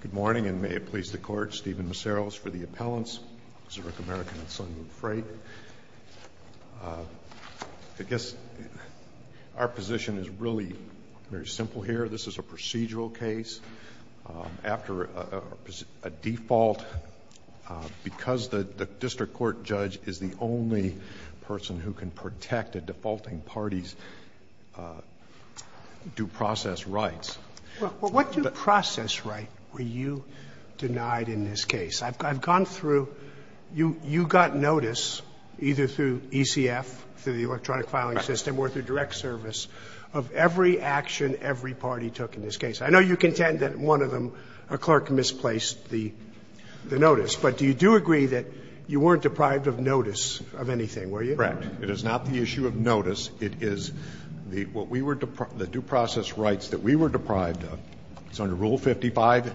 Good morning, and may it please the Court, Stephen Maceros for the Appellants, Zerich American and Sunmoon Freight. I guess our position is really very simple here. This is a procedural case. After a default, because the district court judge is the only person who can protect a I've gone through. You got notice, either through ECF, through the electronic filing system or through direct service, of every action every party took in this case. I know you contend that one of them, a clerk, misplaced the notice, but you do agree that you weren't deprived of notice of anything, were you? Correct. It is not the issue of notice. It is what we were the due process rights that we were deprived of. It's under Rule 55.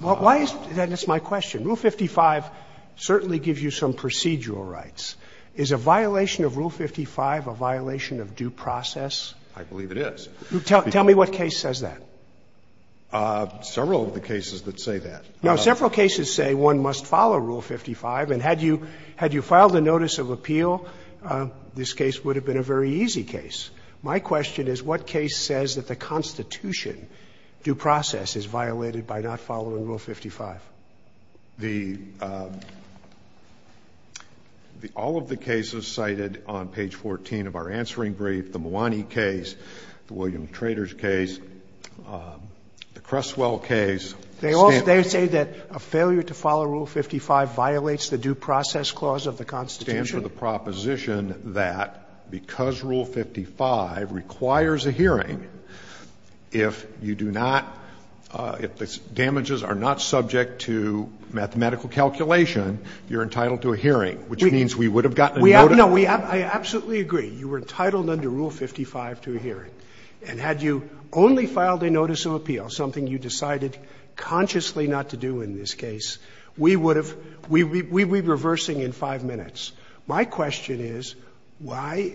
Why is that? That's my question. Rule 55 certainly gives you some procedural rights. Is a violation of Rule 55 a violation of due process? I believe it is. Tell me what case says that. Several of the cases that say that. Now, several cases say one must follow Rule 55, and had you filed a notice of appeal, this case would have been a very easy case. My question is what case says that the Constitution, due process, is violated by not following Rule 55? The all of the cases cited on page 14 of our answering brief, the Mwani case, the William Traders case, the Creswell case. They all say that a failure to follow Rule 55 violates the due process clause of the Constitution. It stands for the proposition that because Rule 55 requires a hearing, if you do not – if the damages are not subject to mathematical calculation, you're entitled to a hearing, which means we would have gotten a notice. No, I absolutely agree. You were entitled under Rule 55 to a hearing. And had you only filed a notice of appeal, something you decided consciously not to do in this case, we would have – we'd be reversing in 5 minutes. My question is why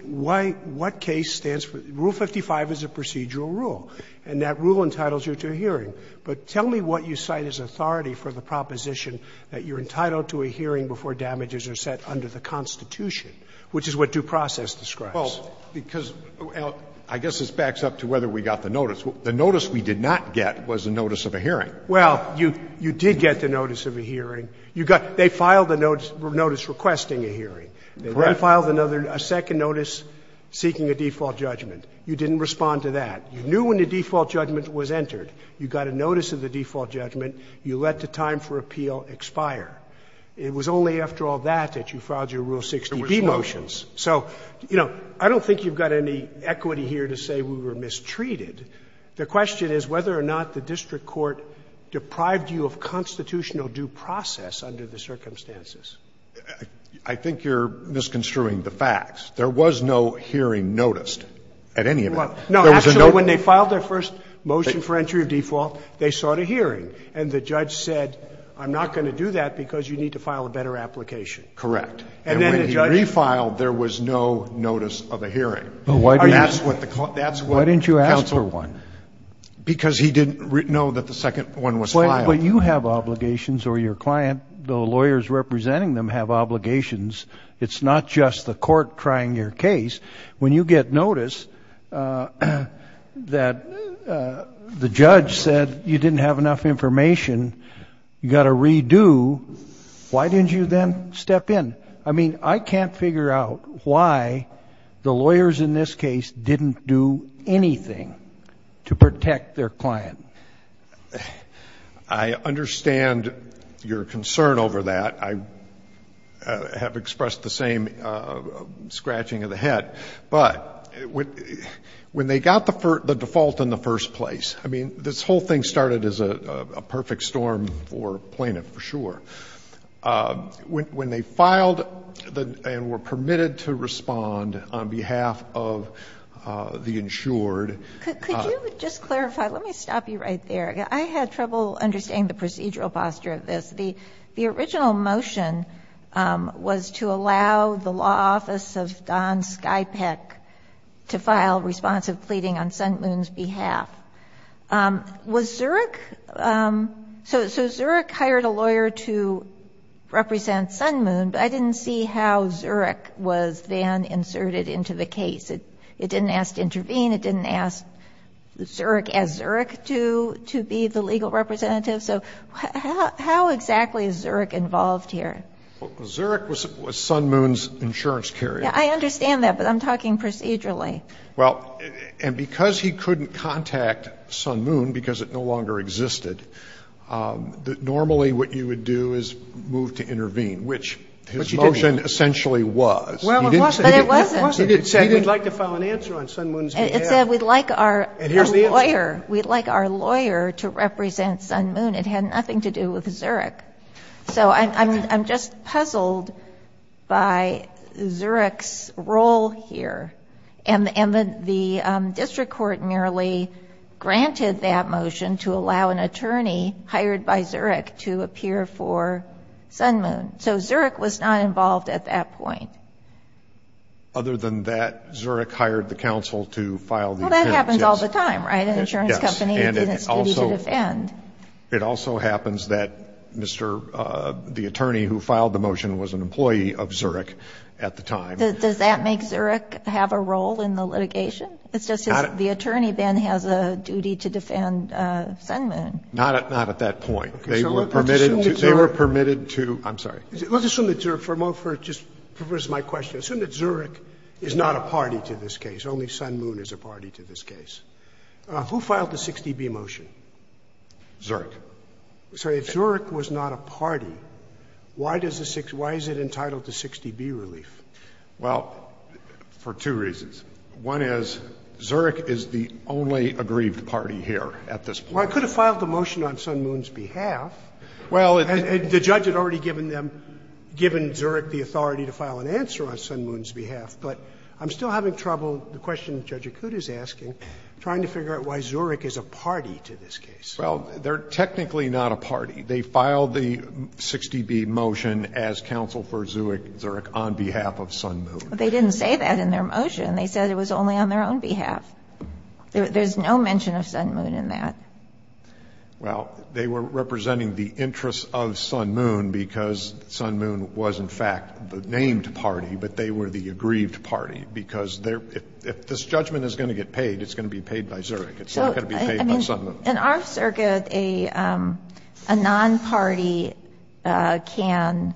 – what case stands for – Rule 55 is a procedural rule, and that rule entitles you to a hearing. But tell me what you cite as authority for the proposition that you're entitled to a hearing before damages are set under the Constitution, which is what due process describes. Well, because, Al, I guess this backs up to whether we got the notice. The notice we did not get was a notice of a hearing. Well, you did get the notice of a hearing. You got – they filed a notice requesting a hearing. Correct. They then filed another – a second notice seeking a default judgment. You didn't respond to that. You knew when the default judgment was entered. You got a notice of the default judgment. You let the time for appeal expire. It was only after all that that you filed your Rule 60b motions. So, you know, I don't think you've got any equity here to say we were mistreated. The question is whether or not the district court deprived you of constitutional due process under the circumstances. I think you're misconstruing the facts. There was no hearing noticed at any event. No, actually, when they filed their first motion for entry of default, they sought a hearing, and the judge said, I'm not going to do that because you need to file a better application. Correct. And then the judge – And when he refiled, there was no notice of a hearing. Why didn't you ask for one? Because he didn't know that the second one was filed. But you have obligations, or your client, the lawyers representing them have obligations. It's not just the court trying your case. When you get notice that the judge said you didn't have enough information, you've got to redo, why didn't you then step in? I mean, I can't figure out why the lawyers in this case didn't do anything to protect their client. I understand your concern over that. I have expressed the same scratching of the head. But when they got the default in the first place, I mean, this whole thing – when they filed and were permitted to respond on behalf of the insured – Could you just clarify? Let me stop you right there. I had trouble understanding the procedural posture of this. The original motion was to allow the law office of Don Skypec to file responsive pleading on Sun Moon's behalf. Was Zurich – so Zurich hired a lawyer to represent Sun Moon, but I didn't see how Zurich was then inserted into the case. It didn't ask to intervene. It didn't ask Zurich as Zurich to be the legal representative. So how exactly is Zurich involved here? Well, Zurich was Sun Moon's insurance carrier. I understand that, but I'm talking procedurally. Well, and because he couldn't contact Sun Moon, because it no longer existed, normally what you would do is move to intervene, which his motion essentially was. Well, it wasn't. But it wasn't. He didn't say, we'd like to file an answer on Sun Moon's behalf. It said, we'd like our lawyer to represent Sun Moon. It had nothing to do with Zurich. So I'm just puzzled by Zurich's role here. And the district court merely granted that motion to allow an attorney hired by Zurich to appear for Sun Moon. So Zurich was not involved at that point. Other than that, Zurich hired the counsel to file the appearance. Well, that happens all the time, right? An insurance company that didn't stand to defend. It also happens that the attorney who filed the motion was an employee of Zurich at the time. Does that make Zurich have a role in the litigation? It's just that the attorney then has a duty to defend Sun Moon. Not at that point. Okay. So let's assume that Zurich. They were permitted to. I'm sorry. Let's assume that Zurich. For a moment, for just my question. Assume that Zurich is not a party to this case. Only Sun Moon is a party to this case. Who filed the 60B motion? Zurich. Sorry. If Zurich was not a party, why does the 60B, why is it entitled to 60B relief? Well, for two reasons. One is Zurich is the only aggrieved party here at this point. Well, it could have filed the motion on Sun Moon's behalf. Well, it's. The judge had already given them, given Zurich the authority to file an answer on Sun Moon's behalf. But I'm still having trouble, the question Judge Akuta is asking, trying to figure out why Zurich is a party to this case. Well, they're technically not a party. They filed the 60B motion as counsel for Zurich on behalf of Sun Moon. They didn't say that in their motion. They said it was only on their own behalf. There's no mention of Sun Moon in that. Well, they were representing the interests of Sun Moon because Sun Moon was in fact the aggrieved party, because if this judgment is going to get paid, it's going to be paid by Zurich. It's not going to be paid by Sun Moon. So, I mean, in our circuit, a non-party can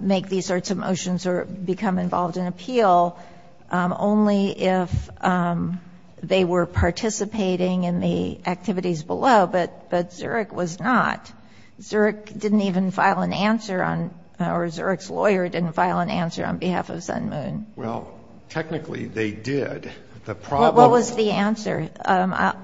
make these sorts of motions or become involved in appeal only if they were participating in the activities below, but Zurich was not. Zurich didn't even file an answer on, or Zurich's lawyer didn't file an answer on behalf of Sun Moon. Well, technically they did. The problem- What was the answer?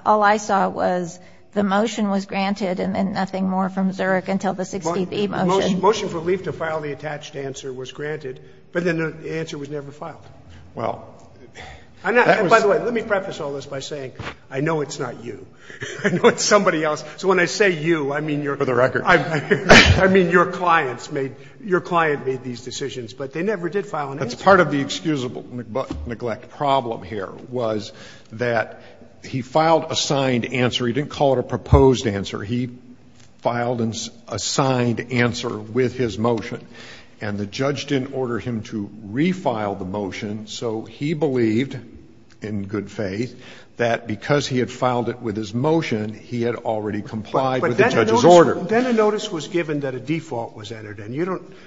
All I saw was the motion was granted and then nothing more from Zurich until the 60B motion. Motion for relief to file the attached answer was granted, but then the answer was never filed. Well, that was- And by the way, let me preface all this by saying, I know it's not you, I know it's somebody else. So when I say you, I mean- For the record. I mean, your clients made, your client made these decisions, but they never did file an answer. That's part of the excusable neglect problem here was that he filed a signed answer. He didn't call it a proposed answer. He filed an assigned answer with his motion, and the judge didn't order him to refile the motion, so he believed, in good faith, that because he had filed it with his motion, he had already complied with the judge's order. But then a notice was given that a default was entered, and you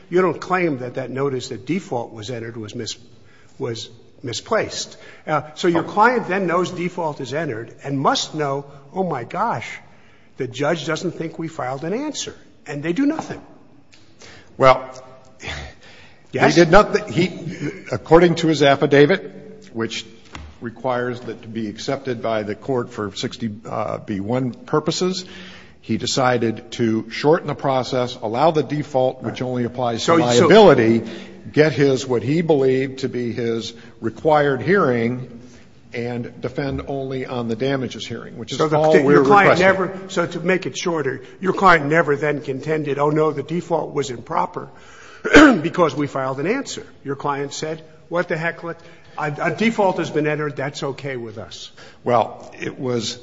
don't claim that that notice that default was entered was misplaced. So your client then knows default is entered and must know, oh, my gosh, the judge doesn't think we filed an answer, and they do nothing. Well, they did not. He, according to his affidavit, which requires it to be accepted by the Court for 60B1 purposes, he decided to shorten the process, allow the default, which only applies to liability, get his, what he believed to be his required hearing, and defend only on the damages hearing, which is all we're requesting. So to make it shorter, your client never then contended, oh, no, the default was improper because we filed an answer. Your client said, what the heck, a default has been entered, that's okay with us. Well, it was,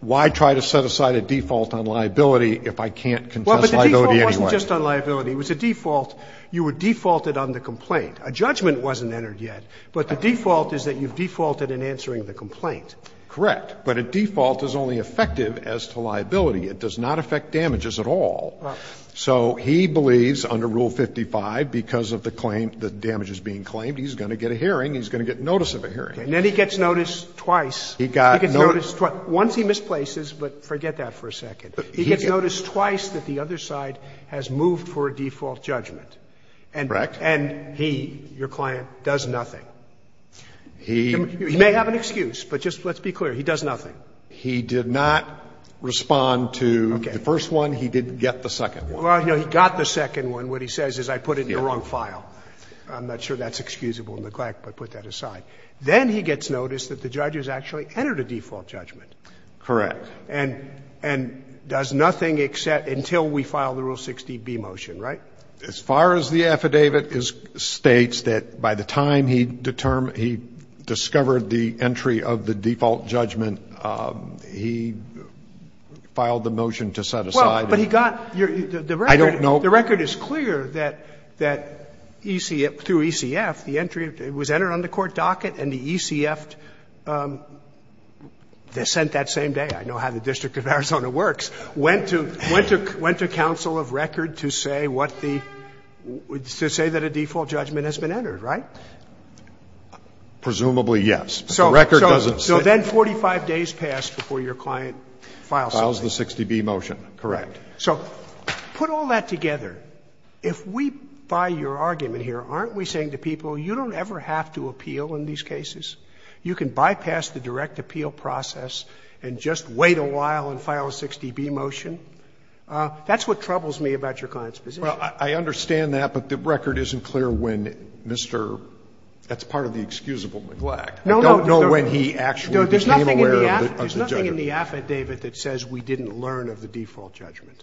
why try to set aside a default on liability if I can't contest liability Well, but the default wasn't just on liability. It was a default. You were defaulted on the complaint. A judgment wasn't entered yet, but the default is that you've defaulted in answering the complaint. Correct. But a default is only effective as to liability. It does not affect damages at all. So he believes under Rule 55, because of the claim, the damages being claimed, he's going to get a hearing. He's going to get notice of a hearing. And then he gets notice twice. He got notice twice. Once he misplaces, but forget that for a second. He gets notice twice that the other side has moved for a default judgment. Correct. And he, your client, does nothing. He may have an excuse, but just let's be clear, he does nothing. He did not respond to the first one. He didn't get the second one. Well, he got the second one. What he says is I put it in the wrong file. I'm not sure that's excusable neglect, but put that aside. Then he gets notice that the judge has actually entered a default judgment. Correct. And does nothing except until we file the Rule 60B motion, right? As far as the affidavit states that by the time he discovered the entry of the default judgment, he filed the motion to set aside. Well, but he got your record. I don't know. The record is clear that ECF, through ECF, the entry was entered on the court document and the ECF, they sent that same day, I know how the District of Arizona works, went to, went to, went to counsel of record to say what the, to say that a default judgment has been entered, right? Presumably, yes. But the record doesn't say that. So then 45 days passed before your client files the 60B motion. Correct. So put all that together. If we, by your argument here, aren't we saying to people, you don't ever have to appeal in these cases? You can bypass the direct appeal process and just wait a while and file a 60B motion. That's what troubles me about your client's position. Well, I understand that, but the record isn't clear when Mr. That's part of the excusable neglect. I don't know when he actually became aware of the judgment. There's nothing in the affidavit that says we didn't learn of the default judgment.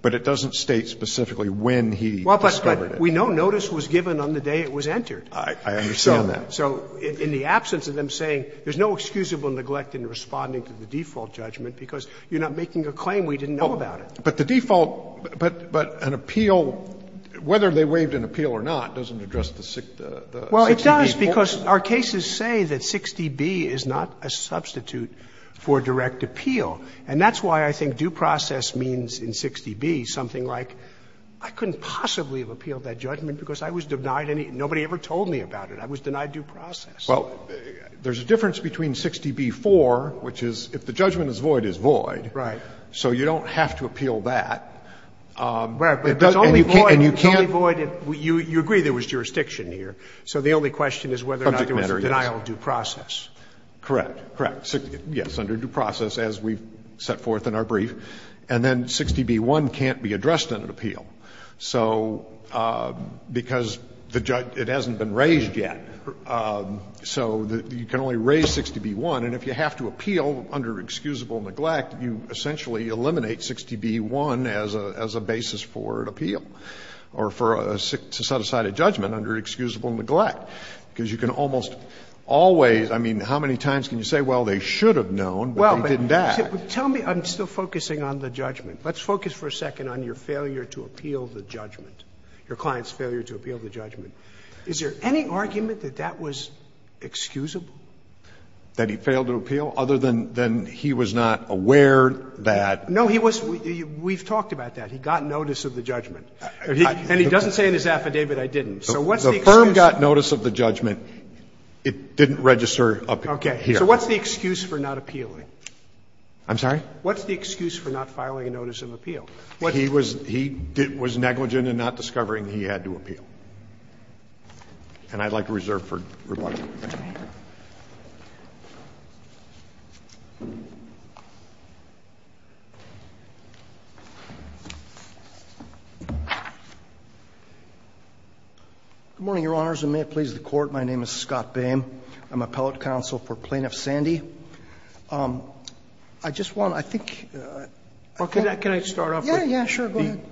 But it doesn't state specifically when he discovered it. Well, but we know notice was given on the day it was entered. I understand that. So in the absence of them saying there's no excusable neglect in responding to the default judgment because you're not making a claim we didn't know about it. But the default, but an appeal, whether they waived an appeal or not, doesn't address the 60B motion. Well, it does, because our cases say that 60B is not a substitute for direct appeal. And that's why I think due process means in 60B something like I couldn't possibly have appealed that judgment because I was denied any, nobody ever told me about it. I was denied due process. Well, there's a difference between 60B-4, which is if the judgment is void, it's void. Right. So you don't have to appeal that. But it's only void, it's only void if you agree there was jurisdiction here. So the only question is whether or not there was a denial of due process. Subject matter, yes. Correct, correct. Yes, under due process as we've set forth in our brief. And then 60B-1 can't be addressed in an appeal. So because the judge, it hasn't been raised yet. So you can only raise 60B-1. And if you have to appeal under excusable neglect, you essentially eliminate 60B-1 as a basis for an appeal or for a set-aside judgment under excusable neglect. Because you can almost always, I mean, how many times can you say, well, they should have known, but they didn't act? Tell me, I'm still focusing on the judgment. Let's focus for a second on your failure to appeal the judgment, your client's failure to appeal the judgment. Is there any argument that that was excusable? That he failed to appeal other than he was not aware that? No, he was we've talked about that. He got notice of the judgment. And he doesn't say in his affidavit, I didn't. So what's the excuse? The firm got notice of the judgment, it didn't register up here. So what's the excuse for not appealing? I'm sorry? What's the excuse for not filing a notice of appeal? He was negligent in not discovering he had to appeal. And I'd like to reserve for rebuttal. Good morning, Your Honors, and may it please the Court. My name is Scott Boehm. I'm appellate counsel for Plaintiff Sandy. I just want to, I think, I think. Well, can I start off with? Yeah, yeah, sure, go ahead.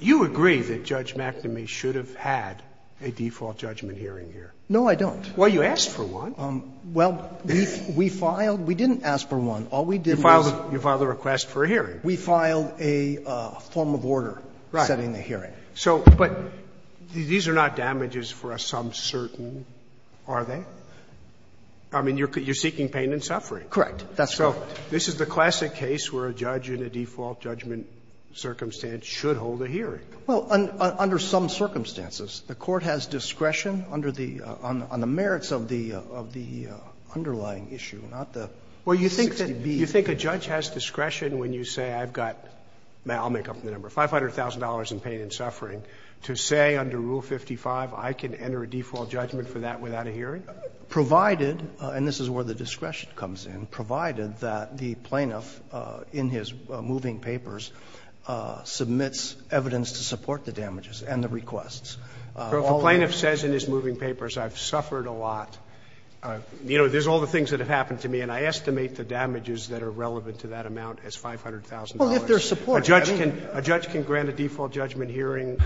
You agree that Judge McNamee should have had a default judgment hearing here. No, I don't. Well, you asked for one. Well, we filed. We didn't ask for one. All we did was. You filed a request for a hearing. We filed a form of order setting the hearing. So, but these are not damages for some certain, are they? I mean, you're seeking pain and suffering. Correct. That's correct. So this is the classic case where a judge in a default judgment circumstance should hold a hearing. Well, under some circumstances. The Court has discretion under the, on the merits of the underlying issue, not the 60B. Well, you think that, you think a judge has discretion when you say I've got, I'll make up the number, $500,000 in pain and suffering to say under Rule 55 I can enter a default judgment for that without a hearing? Provided, and this is where the discretion comes in, provided that the plaintiff in his moving papers submits evidence to support the damages and the requests. If a plaintiff says in his moving papers, I've suffered a lot, you know, there's all the things that have happened to me, and I estimate the damages that are relevant to that amount as $500,000. Well, if there's support, I mean. A judge can grant a default judgment hearing,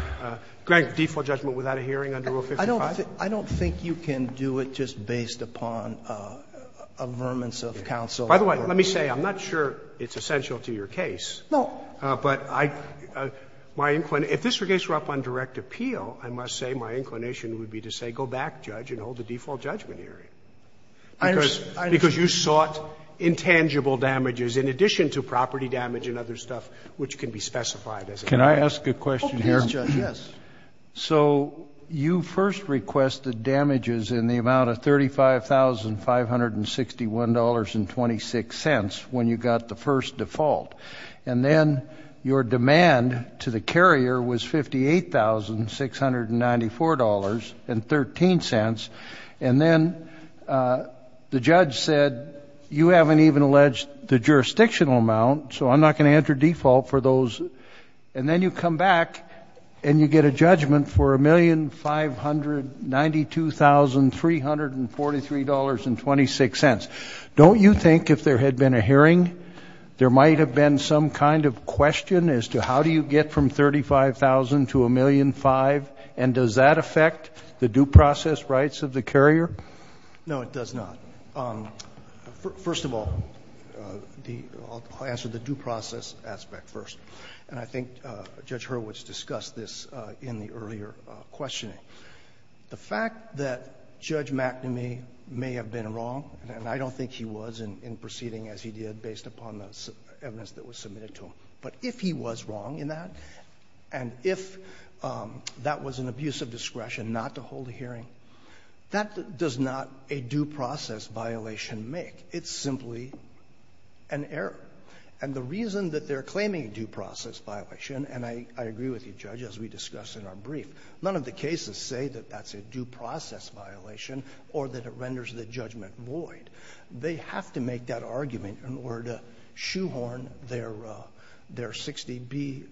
grant default judgment without a hearing under Rule 55. I don't think you can do it just based upon averments of counsel. By the way, let me say, I'm not sure it's essential to your case, but I, my, if this were a case brought up on direct appeal, I must say my inclination would be to say go back, Judge, and hold a default judgment hearing, because you sought intangible damages in addition to property damage and other stuff which can be specified as a damage. Can I ask a question here? Oh, please, Judge, yes. So you first requested damages in the amount of $35,561.26 when you got the first default, and then your demand to the carrier was $58,694.13, and then the judge said, you haven't even alleged the jurisdictional amount, so I'm not going to judge you. So you requested a judgment for $1,592,343.26. Don't you think if there had been a hearing, there might have been some kind of question as to how do you get from $35,000 to $1,005,000, and does that affect the due process rights of the carrier? No, it does not. First of all, I'll answer the due process aspect first. And I think Judge Hurwitz discussed this in the earlier questioning. The fact that Judge McNamee may have been wrong, and I don't think he was in proceeding as he did based upon the evidence that was submitted to him, but if he was wrong in that, and if that was an abuse of discretion not to hold a hearing, that does not a due process violation make. It's simply an error. And the reason that they're claiming a due process violation, and I agree with you, Judge, as we discussed in our brief, none of the cases say that that's a due process violation or that it renders the judgment void. They have to make that argument in order to shoehorn their 60B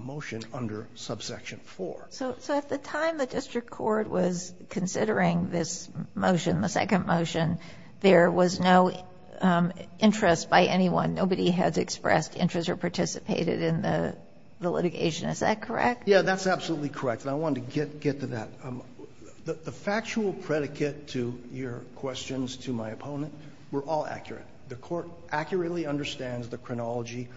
motion under subsection 4. So at the time the district court was considering this motion, the second motion, there was no interest by anyone. Nobody has expressed interest or participated in the litigation. Is that correct? Yeah, that's absolutely correct. And I wanted to get to that. The factual predicate to your questions to my opponent were all accurate. The Court accurately understands the chronology.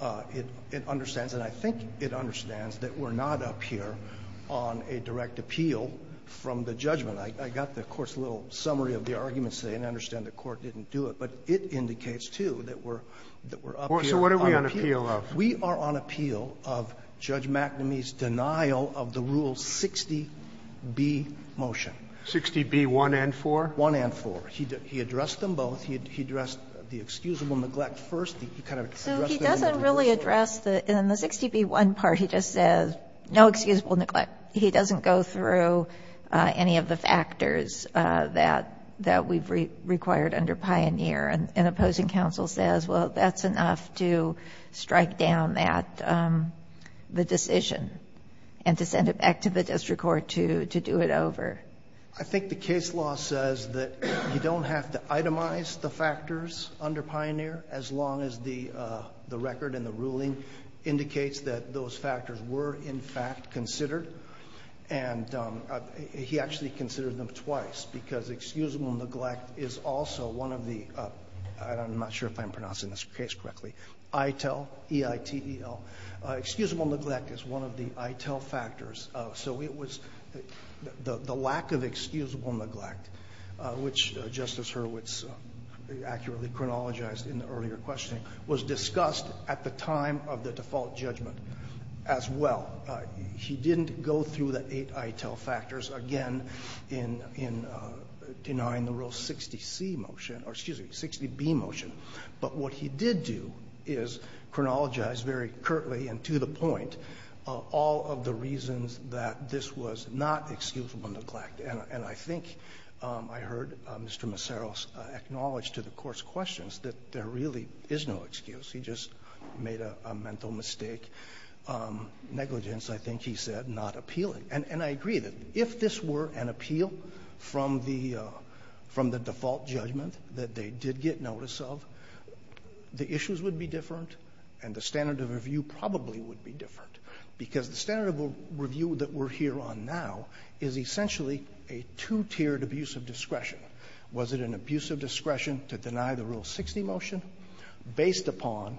It understands, and I think it understands, that we're not up here on a direct appeal from the judgment. I got the Court's little summary of the arguments today, and I understand the Court didn't do it. But it indicates, too, that we're up here on appeal. So what are we on appeal of? We are on appeal of Judge McNamee's denial of the Rule 60B motion. 60B1 and 4? 1 and 4. He addressed them both. He addressed the excusable neglect first. He kind of addressed them in the first order. So he doesn't really address the 60B1 part. He just says no excusable neglect. He doesn't go through any of the factors that we've required under Pioneer. And opposing counsel says, well, that's enough to strike down the decision and to send it back to the district court to do it over. I think the case law says that you don't have to itemize the factors under Pioneer as long as the record and the ruling indicates that those factors were, in fact, considered. And he actually considered them twice, because excusable neglect is also one of the, I'm not sure if I'm pronouncing this case correctly, ITEL, E-I-T-E-L. Excusable neglect is one of the ITEL factors. So it was the lack of excusable neglect, which Justice Hurwitz accurately chronologized in the earlier questioning, was discussed at the time of the default judgment as well. He didn't go through the eight ITEL factors, again, in denying the rule 60C motion or, excuse me, 60B motion. But what he did do is chronologize very curtly and to the point all of the reasons that this was not excusable neglect. And I think I heard Mr. Maceros acknowledge to the Court's questions that there really is no excuse. He just made a mental mistake. Negligence, I think he said, not appealing. And I agree that if this were an appeal from the default judgment that they did get notice of, the issues would be different and the standard of review probably would be different, because the standard of review that we're here on now is essentially a two-tiered abuse of discretion. Was it an abuse of discretion to deny the Rule 60 motion based upon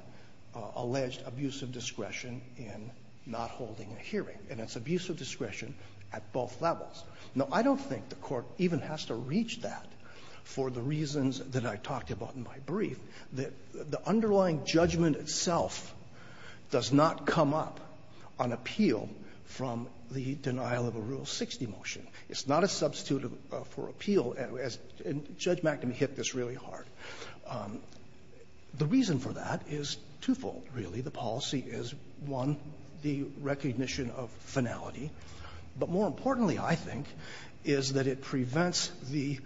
alleged abuse of discretion in not holding a hearing? And it's abuse of discretion at both levels. Now, I don't think the Court even has to reach that for the reasons that I talked about in my brief, that the underlying judgment itself does not come up on appeal from the denial of a Rule 60 motion. It's not a substitute for appeal, and Judge McNamee hit this really hard. The reason for that is twofold, really. The policy is, one, the recognition of finality. But more importantly, I think, is that it prevents the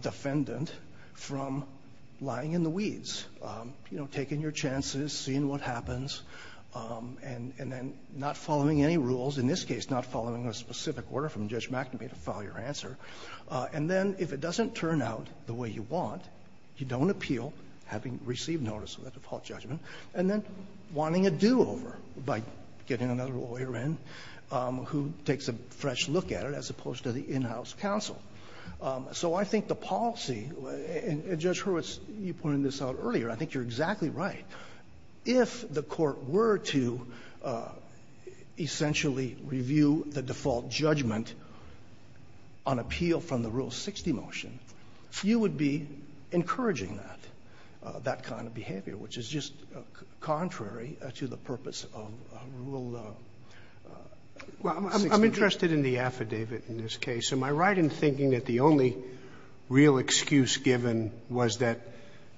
defendant from lying in the weeds, you know, taking your chances, seeing what happens, and then not following any rules, in this case, not following a specific order from Judge McNamee to file your answer. And then if it doesn't turn out the way you want, you don't appeal, having received notice of that default judgment, and then wanting a do-over by getting another lawyer in who takes a fresh look at it as opposed to the in-house counsel. So I think the policy, and Judge Hurwitz, you pointed this out earlier, I think you're exactly right. If the Court were to essentially review the default judgment on appeal from the Rule 60 motion, you would be encouraging that, that kind of behavior, which is just contrary to the purpose of Rule 60. Sotomayor, I'm interested in the affidavit in this case. Am I right in thinking that the only real excuse given was that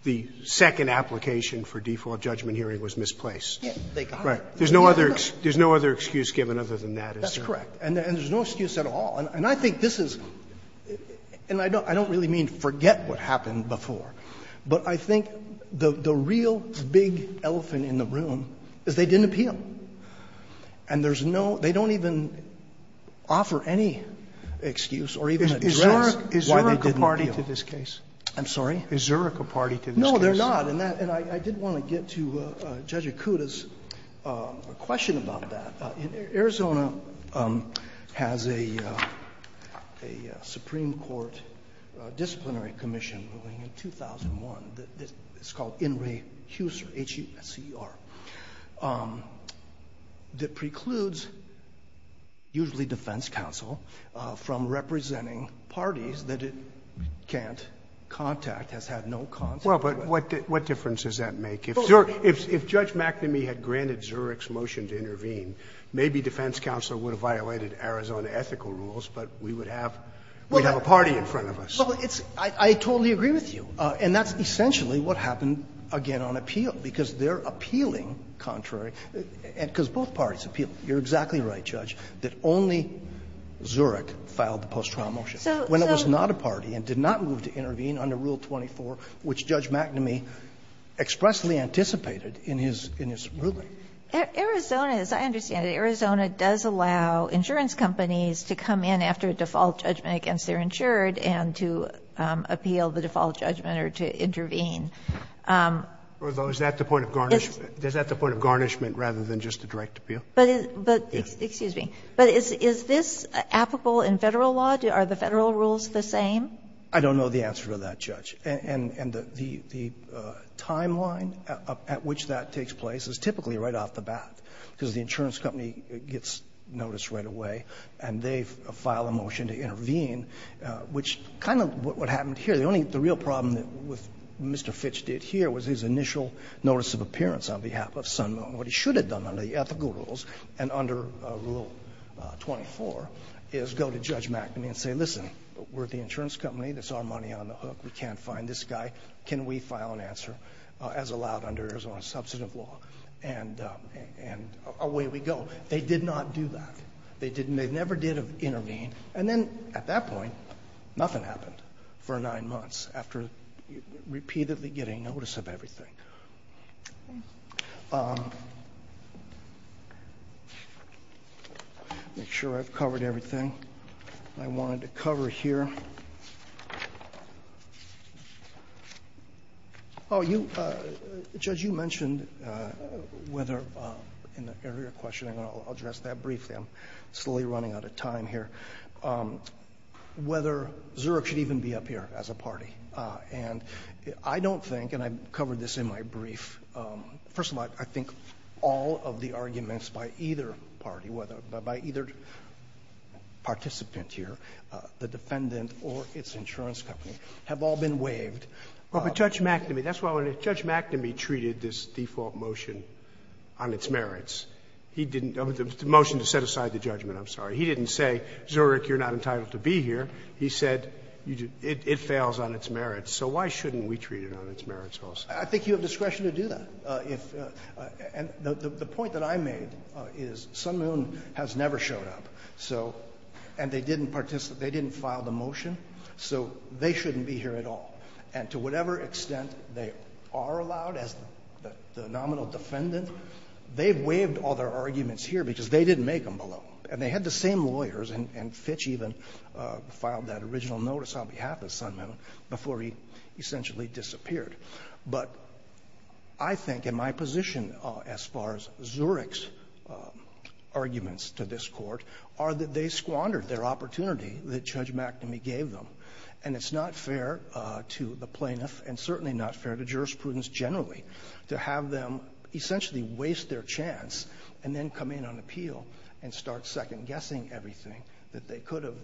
the second application for default judgment hearing was misplaced? There's no other excuse given other than that, is there? That's correct, and there's no excuse at all. And I think this is – and I don't really mean forget what happened before, but I think the real big elephant in the room is they didn't appeal, and there's no – they don't even offer any excuse or even address why they didn't appeal. Is Zurich a party to this case? I'm sorry? Is Zurich a party to this case? No, they're not, and I did want to get to Judge Akuta's question about that. Arizona has a Supreme Court disciplinary commission ruling in 2001 that's called In re Huser, H-U-S-E-R, that precludes usually defense counsel from representing parties that it can't contact, has had no contact. Well, but what difference does that make? If Judge McNamee had granted Zurich's motion to intervene, maybe defense counsel would have violated Arizona ethical rules, but we would have a party in front of us. Well, it's – I totally agree with you, and that's essentially what happened, again, on appeal, because they're appealing contrary – because both parties appeal. You're exactly right, Judge, that only Zurich filed the post-trial motion. So – so – Well, that's not a ruling that Judge McNamee expressly anticipated in his – in his ruling. Arizona, as I understand it, Arizona does allow insurance companies to come in after a default judgment against their insured and to appeal the default judgment or to intervene. Is that the point of garnishment – is that the point of garnishment rather than just a direct appeal? But is – but – excuse me – but is this applicable in Federal law? Are the Federal rules the same? I don't know the answer to that, Judge. And the – the timeline at which that takes place is typically right off the bat, because the insurance company gets notice right away and they file a motion to intervene, which kind of what happened here. The only – the real problem with Mr. Fitch did here was his initial notice of appearance on behalf of Sun Moon. What he should have done under the ethical rules and under Rule 24 is go to Judge McNamee, that's our money on the hook, we can't fine this guy, can we file an answer as allowed under Arizona's substantive law? And away we go. They did not do that. They didn't – they never did intervene. And then at that point, nothing happened for nine months after repeatedly getting notice of everything. Make sure I've covered everything I wanted to cover here. Oh, you – Judge, you mentioned whether in the area of questioning, I'll address that briefly, I'm slowly running out of time here, whether Zurich should even be up here as a party. And I don't think, and I covered this in my brief, first of all, I think all of the arguments by either party, by either participant here, the defendant or its interlocutor or the insurance company, have all been waived. But Judge McNamee, that's why when Judge McNamee treated this default motion on its merits, he didn't – the motion to set aside the judgment, I'm sorry. He didn't say, Zurich, you're not entitled to be here. He said, it fails on its merits. So why shouldn't we treat it on its merits also? I think you have discretion to do that. And the point that I made is Sun Moon has never showed up. So – and they didn't participate, they didn't file the motion. So they shouldn't be here at all. And to whatever extent they are allowed as the nominal defendant, they've waived all their arguments here because they didn't make them below. And they had the same lawyers, and Fitch even filed that original notice on behalf of Sun Moon before he essentially disappeared. But I think in my position as far as Zurich's arguments to this Court are that they And it's not fair to the plaintiff, and certainly not fair to jurisprudence generally, to have them essentially waste their chance and then come in on appeal and start second-guessing everything that they could have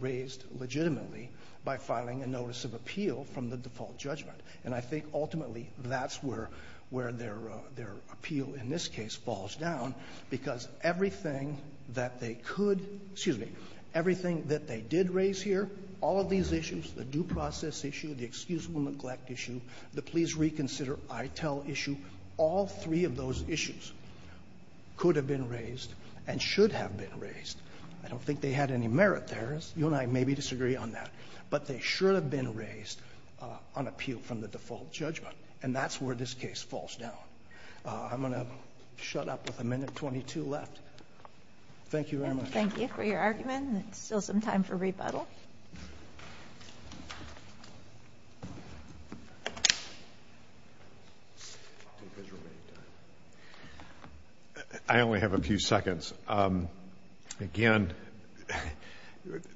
raised legitimately by filing a notice of appeal from the default judgment. And I think ultimately that's where their appeal in this case falls down, because everything that they could – excuse me, everything that they did raise here, all of these issues, the due process issue, the excusable neglect issue, the please reconsider, I tell issue, all three of those issues could have been raised and should have been raised. I don't think they had any merit there. You and I maybe disagree on that. But they should have been raised on appeal from the default judgment. And that's where this case falls down. I'm going to shut up with a minute 22 left. Thank you very much. Thank you for your argument. There's still some time for rebuttal. I only have a few seconds. Again,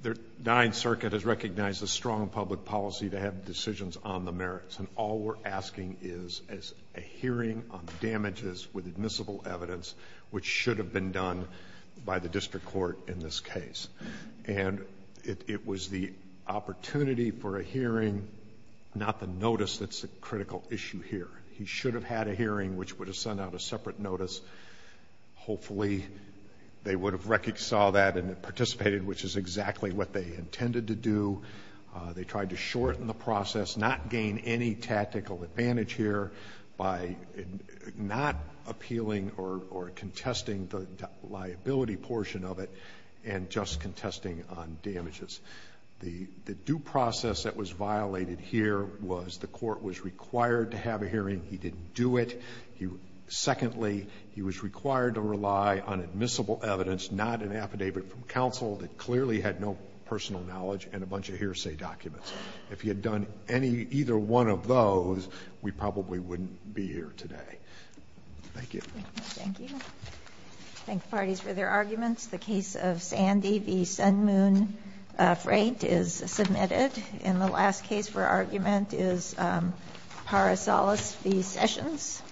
the Ninth Circuit has recognized a strong public policy to have decisions on the merits. And all we're asking is a hearing on damages with admissible evidence, which should have been done by the district court in this case. And it was the opportunity for a hearing, not the notice that's a critical issue here. He should have had a hearing, which would have sent out a separate notice. Hopefully they would have reconciled that and participated, which is exactly what they intended to do. They tried to shorten the process, not gain any tactical advantage here by not appealing or contesting the liability portion of it and just contesting on damages. The due process that was violated here was the court was required to have a hearing. He didn't do it. Secondly, he was required to rely on admissible evidence, not an affidavit from the hearsay documents. If he had done any, either one of those, we probably wouldn't be here today. Thank you. Thank you. Thank you. Thank the parties for their arguments. The case of Sandy v. Sun Moon Freight is submitted. And the last case for argument is Parasalis v. Sessions.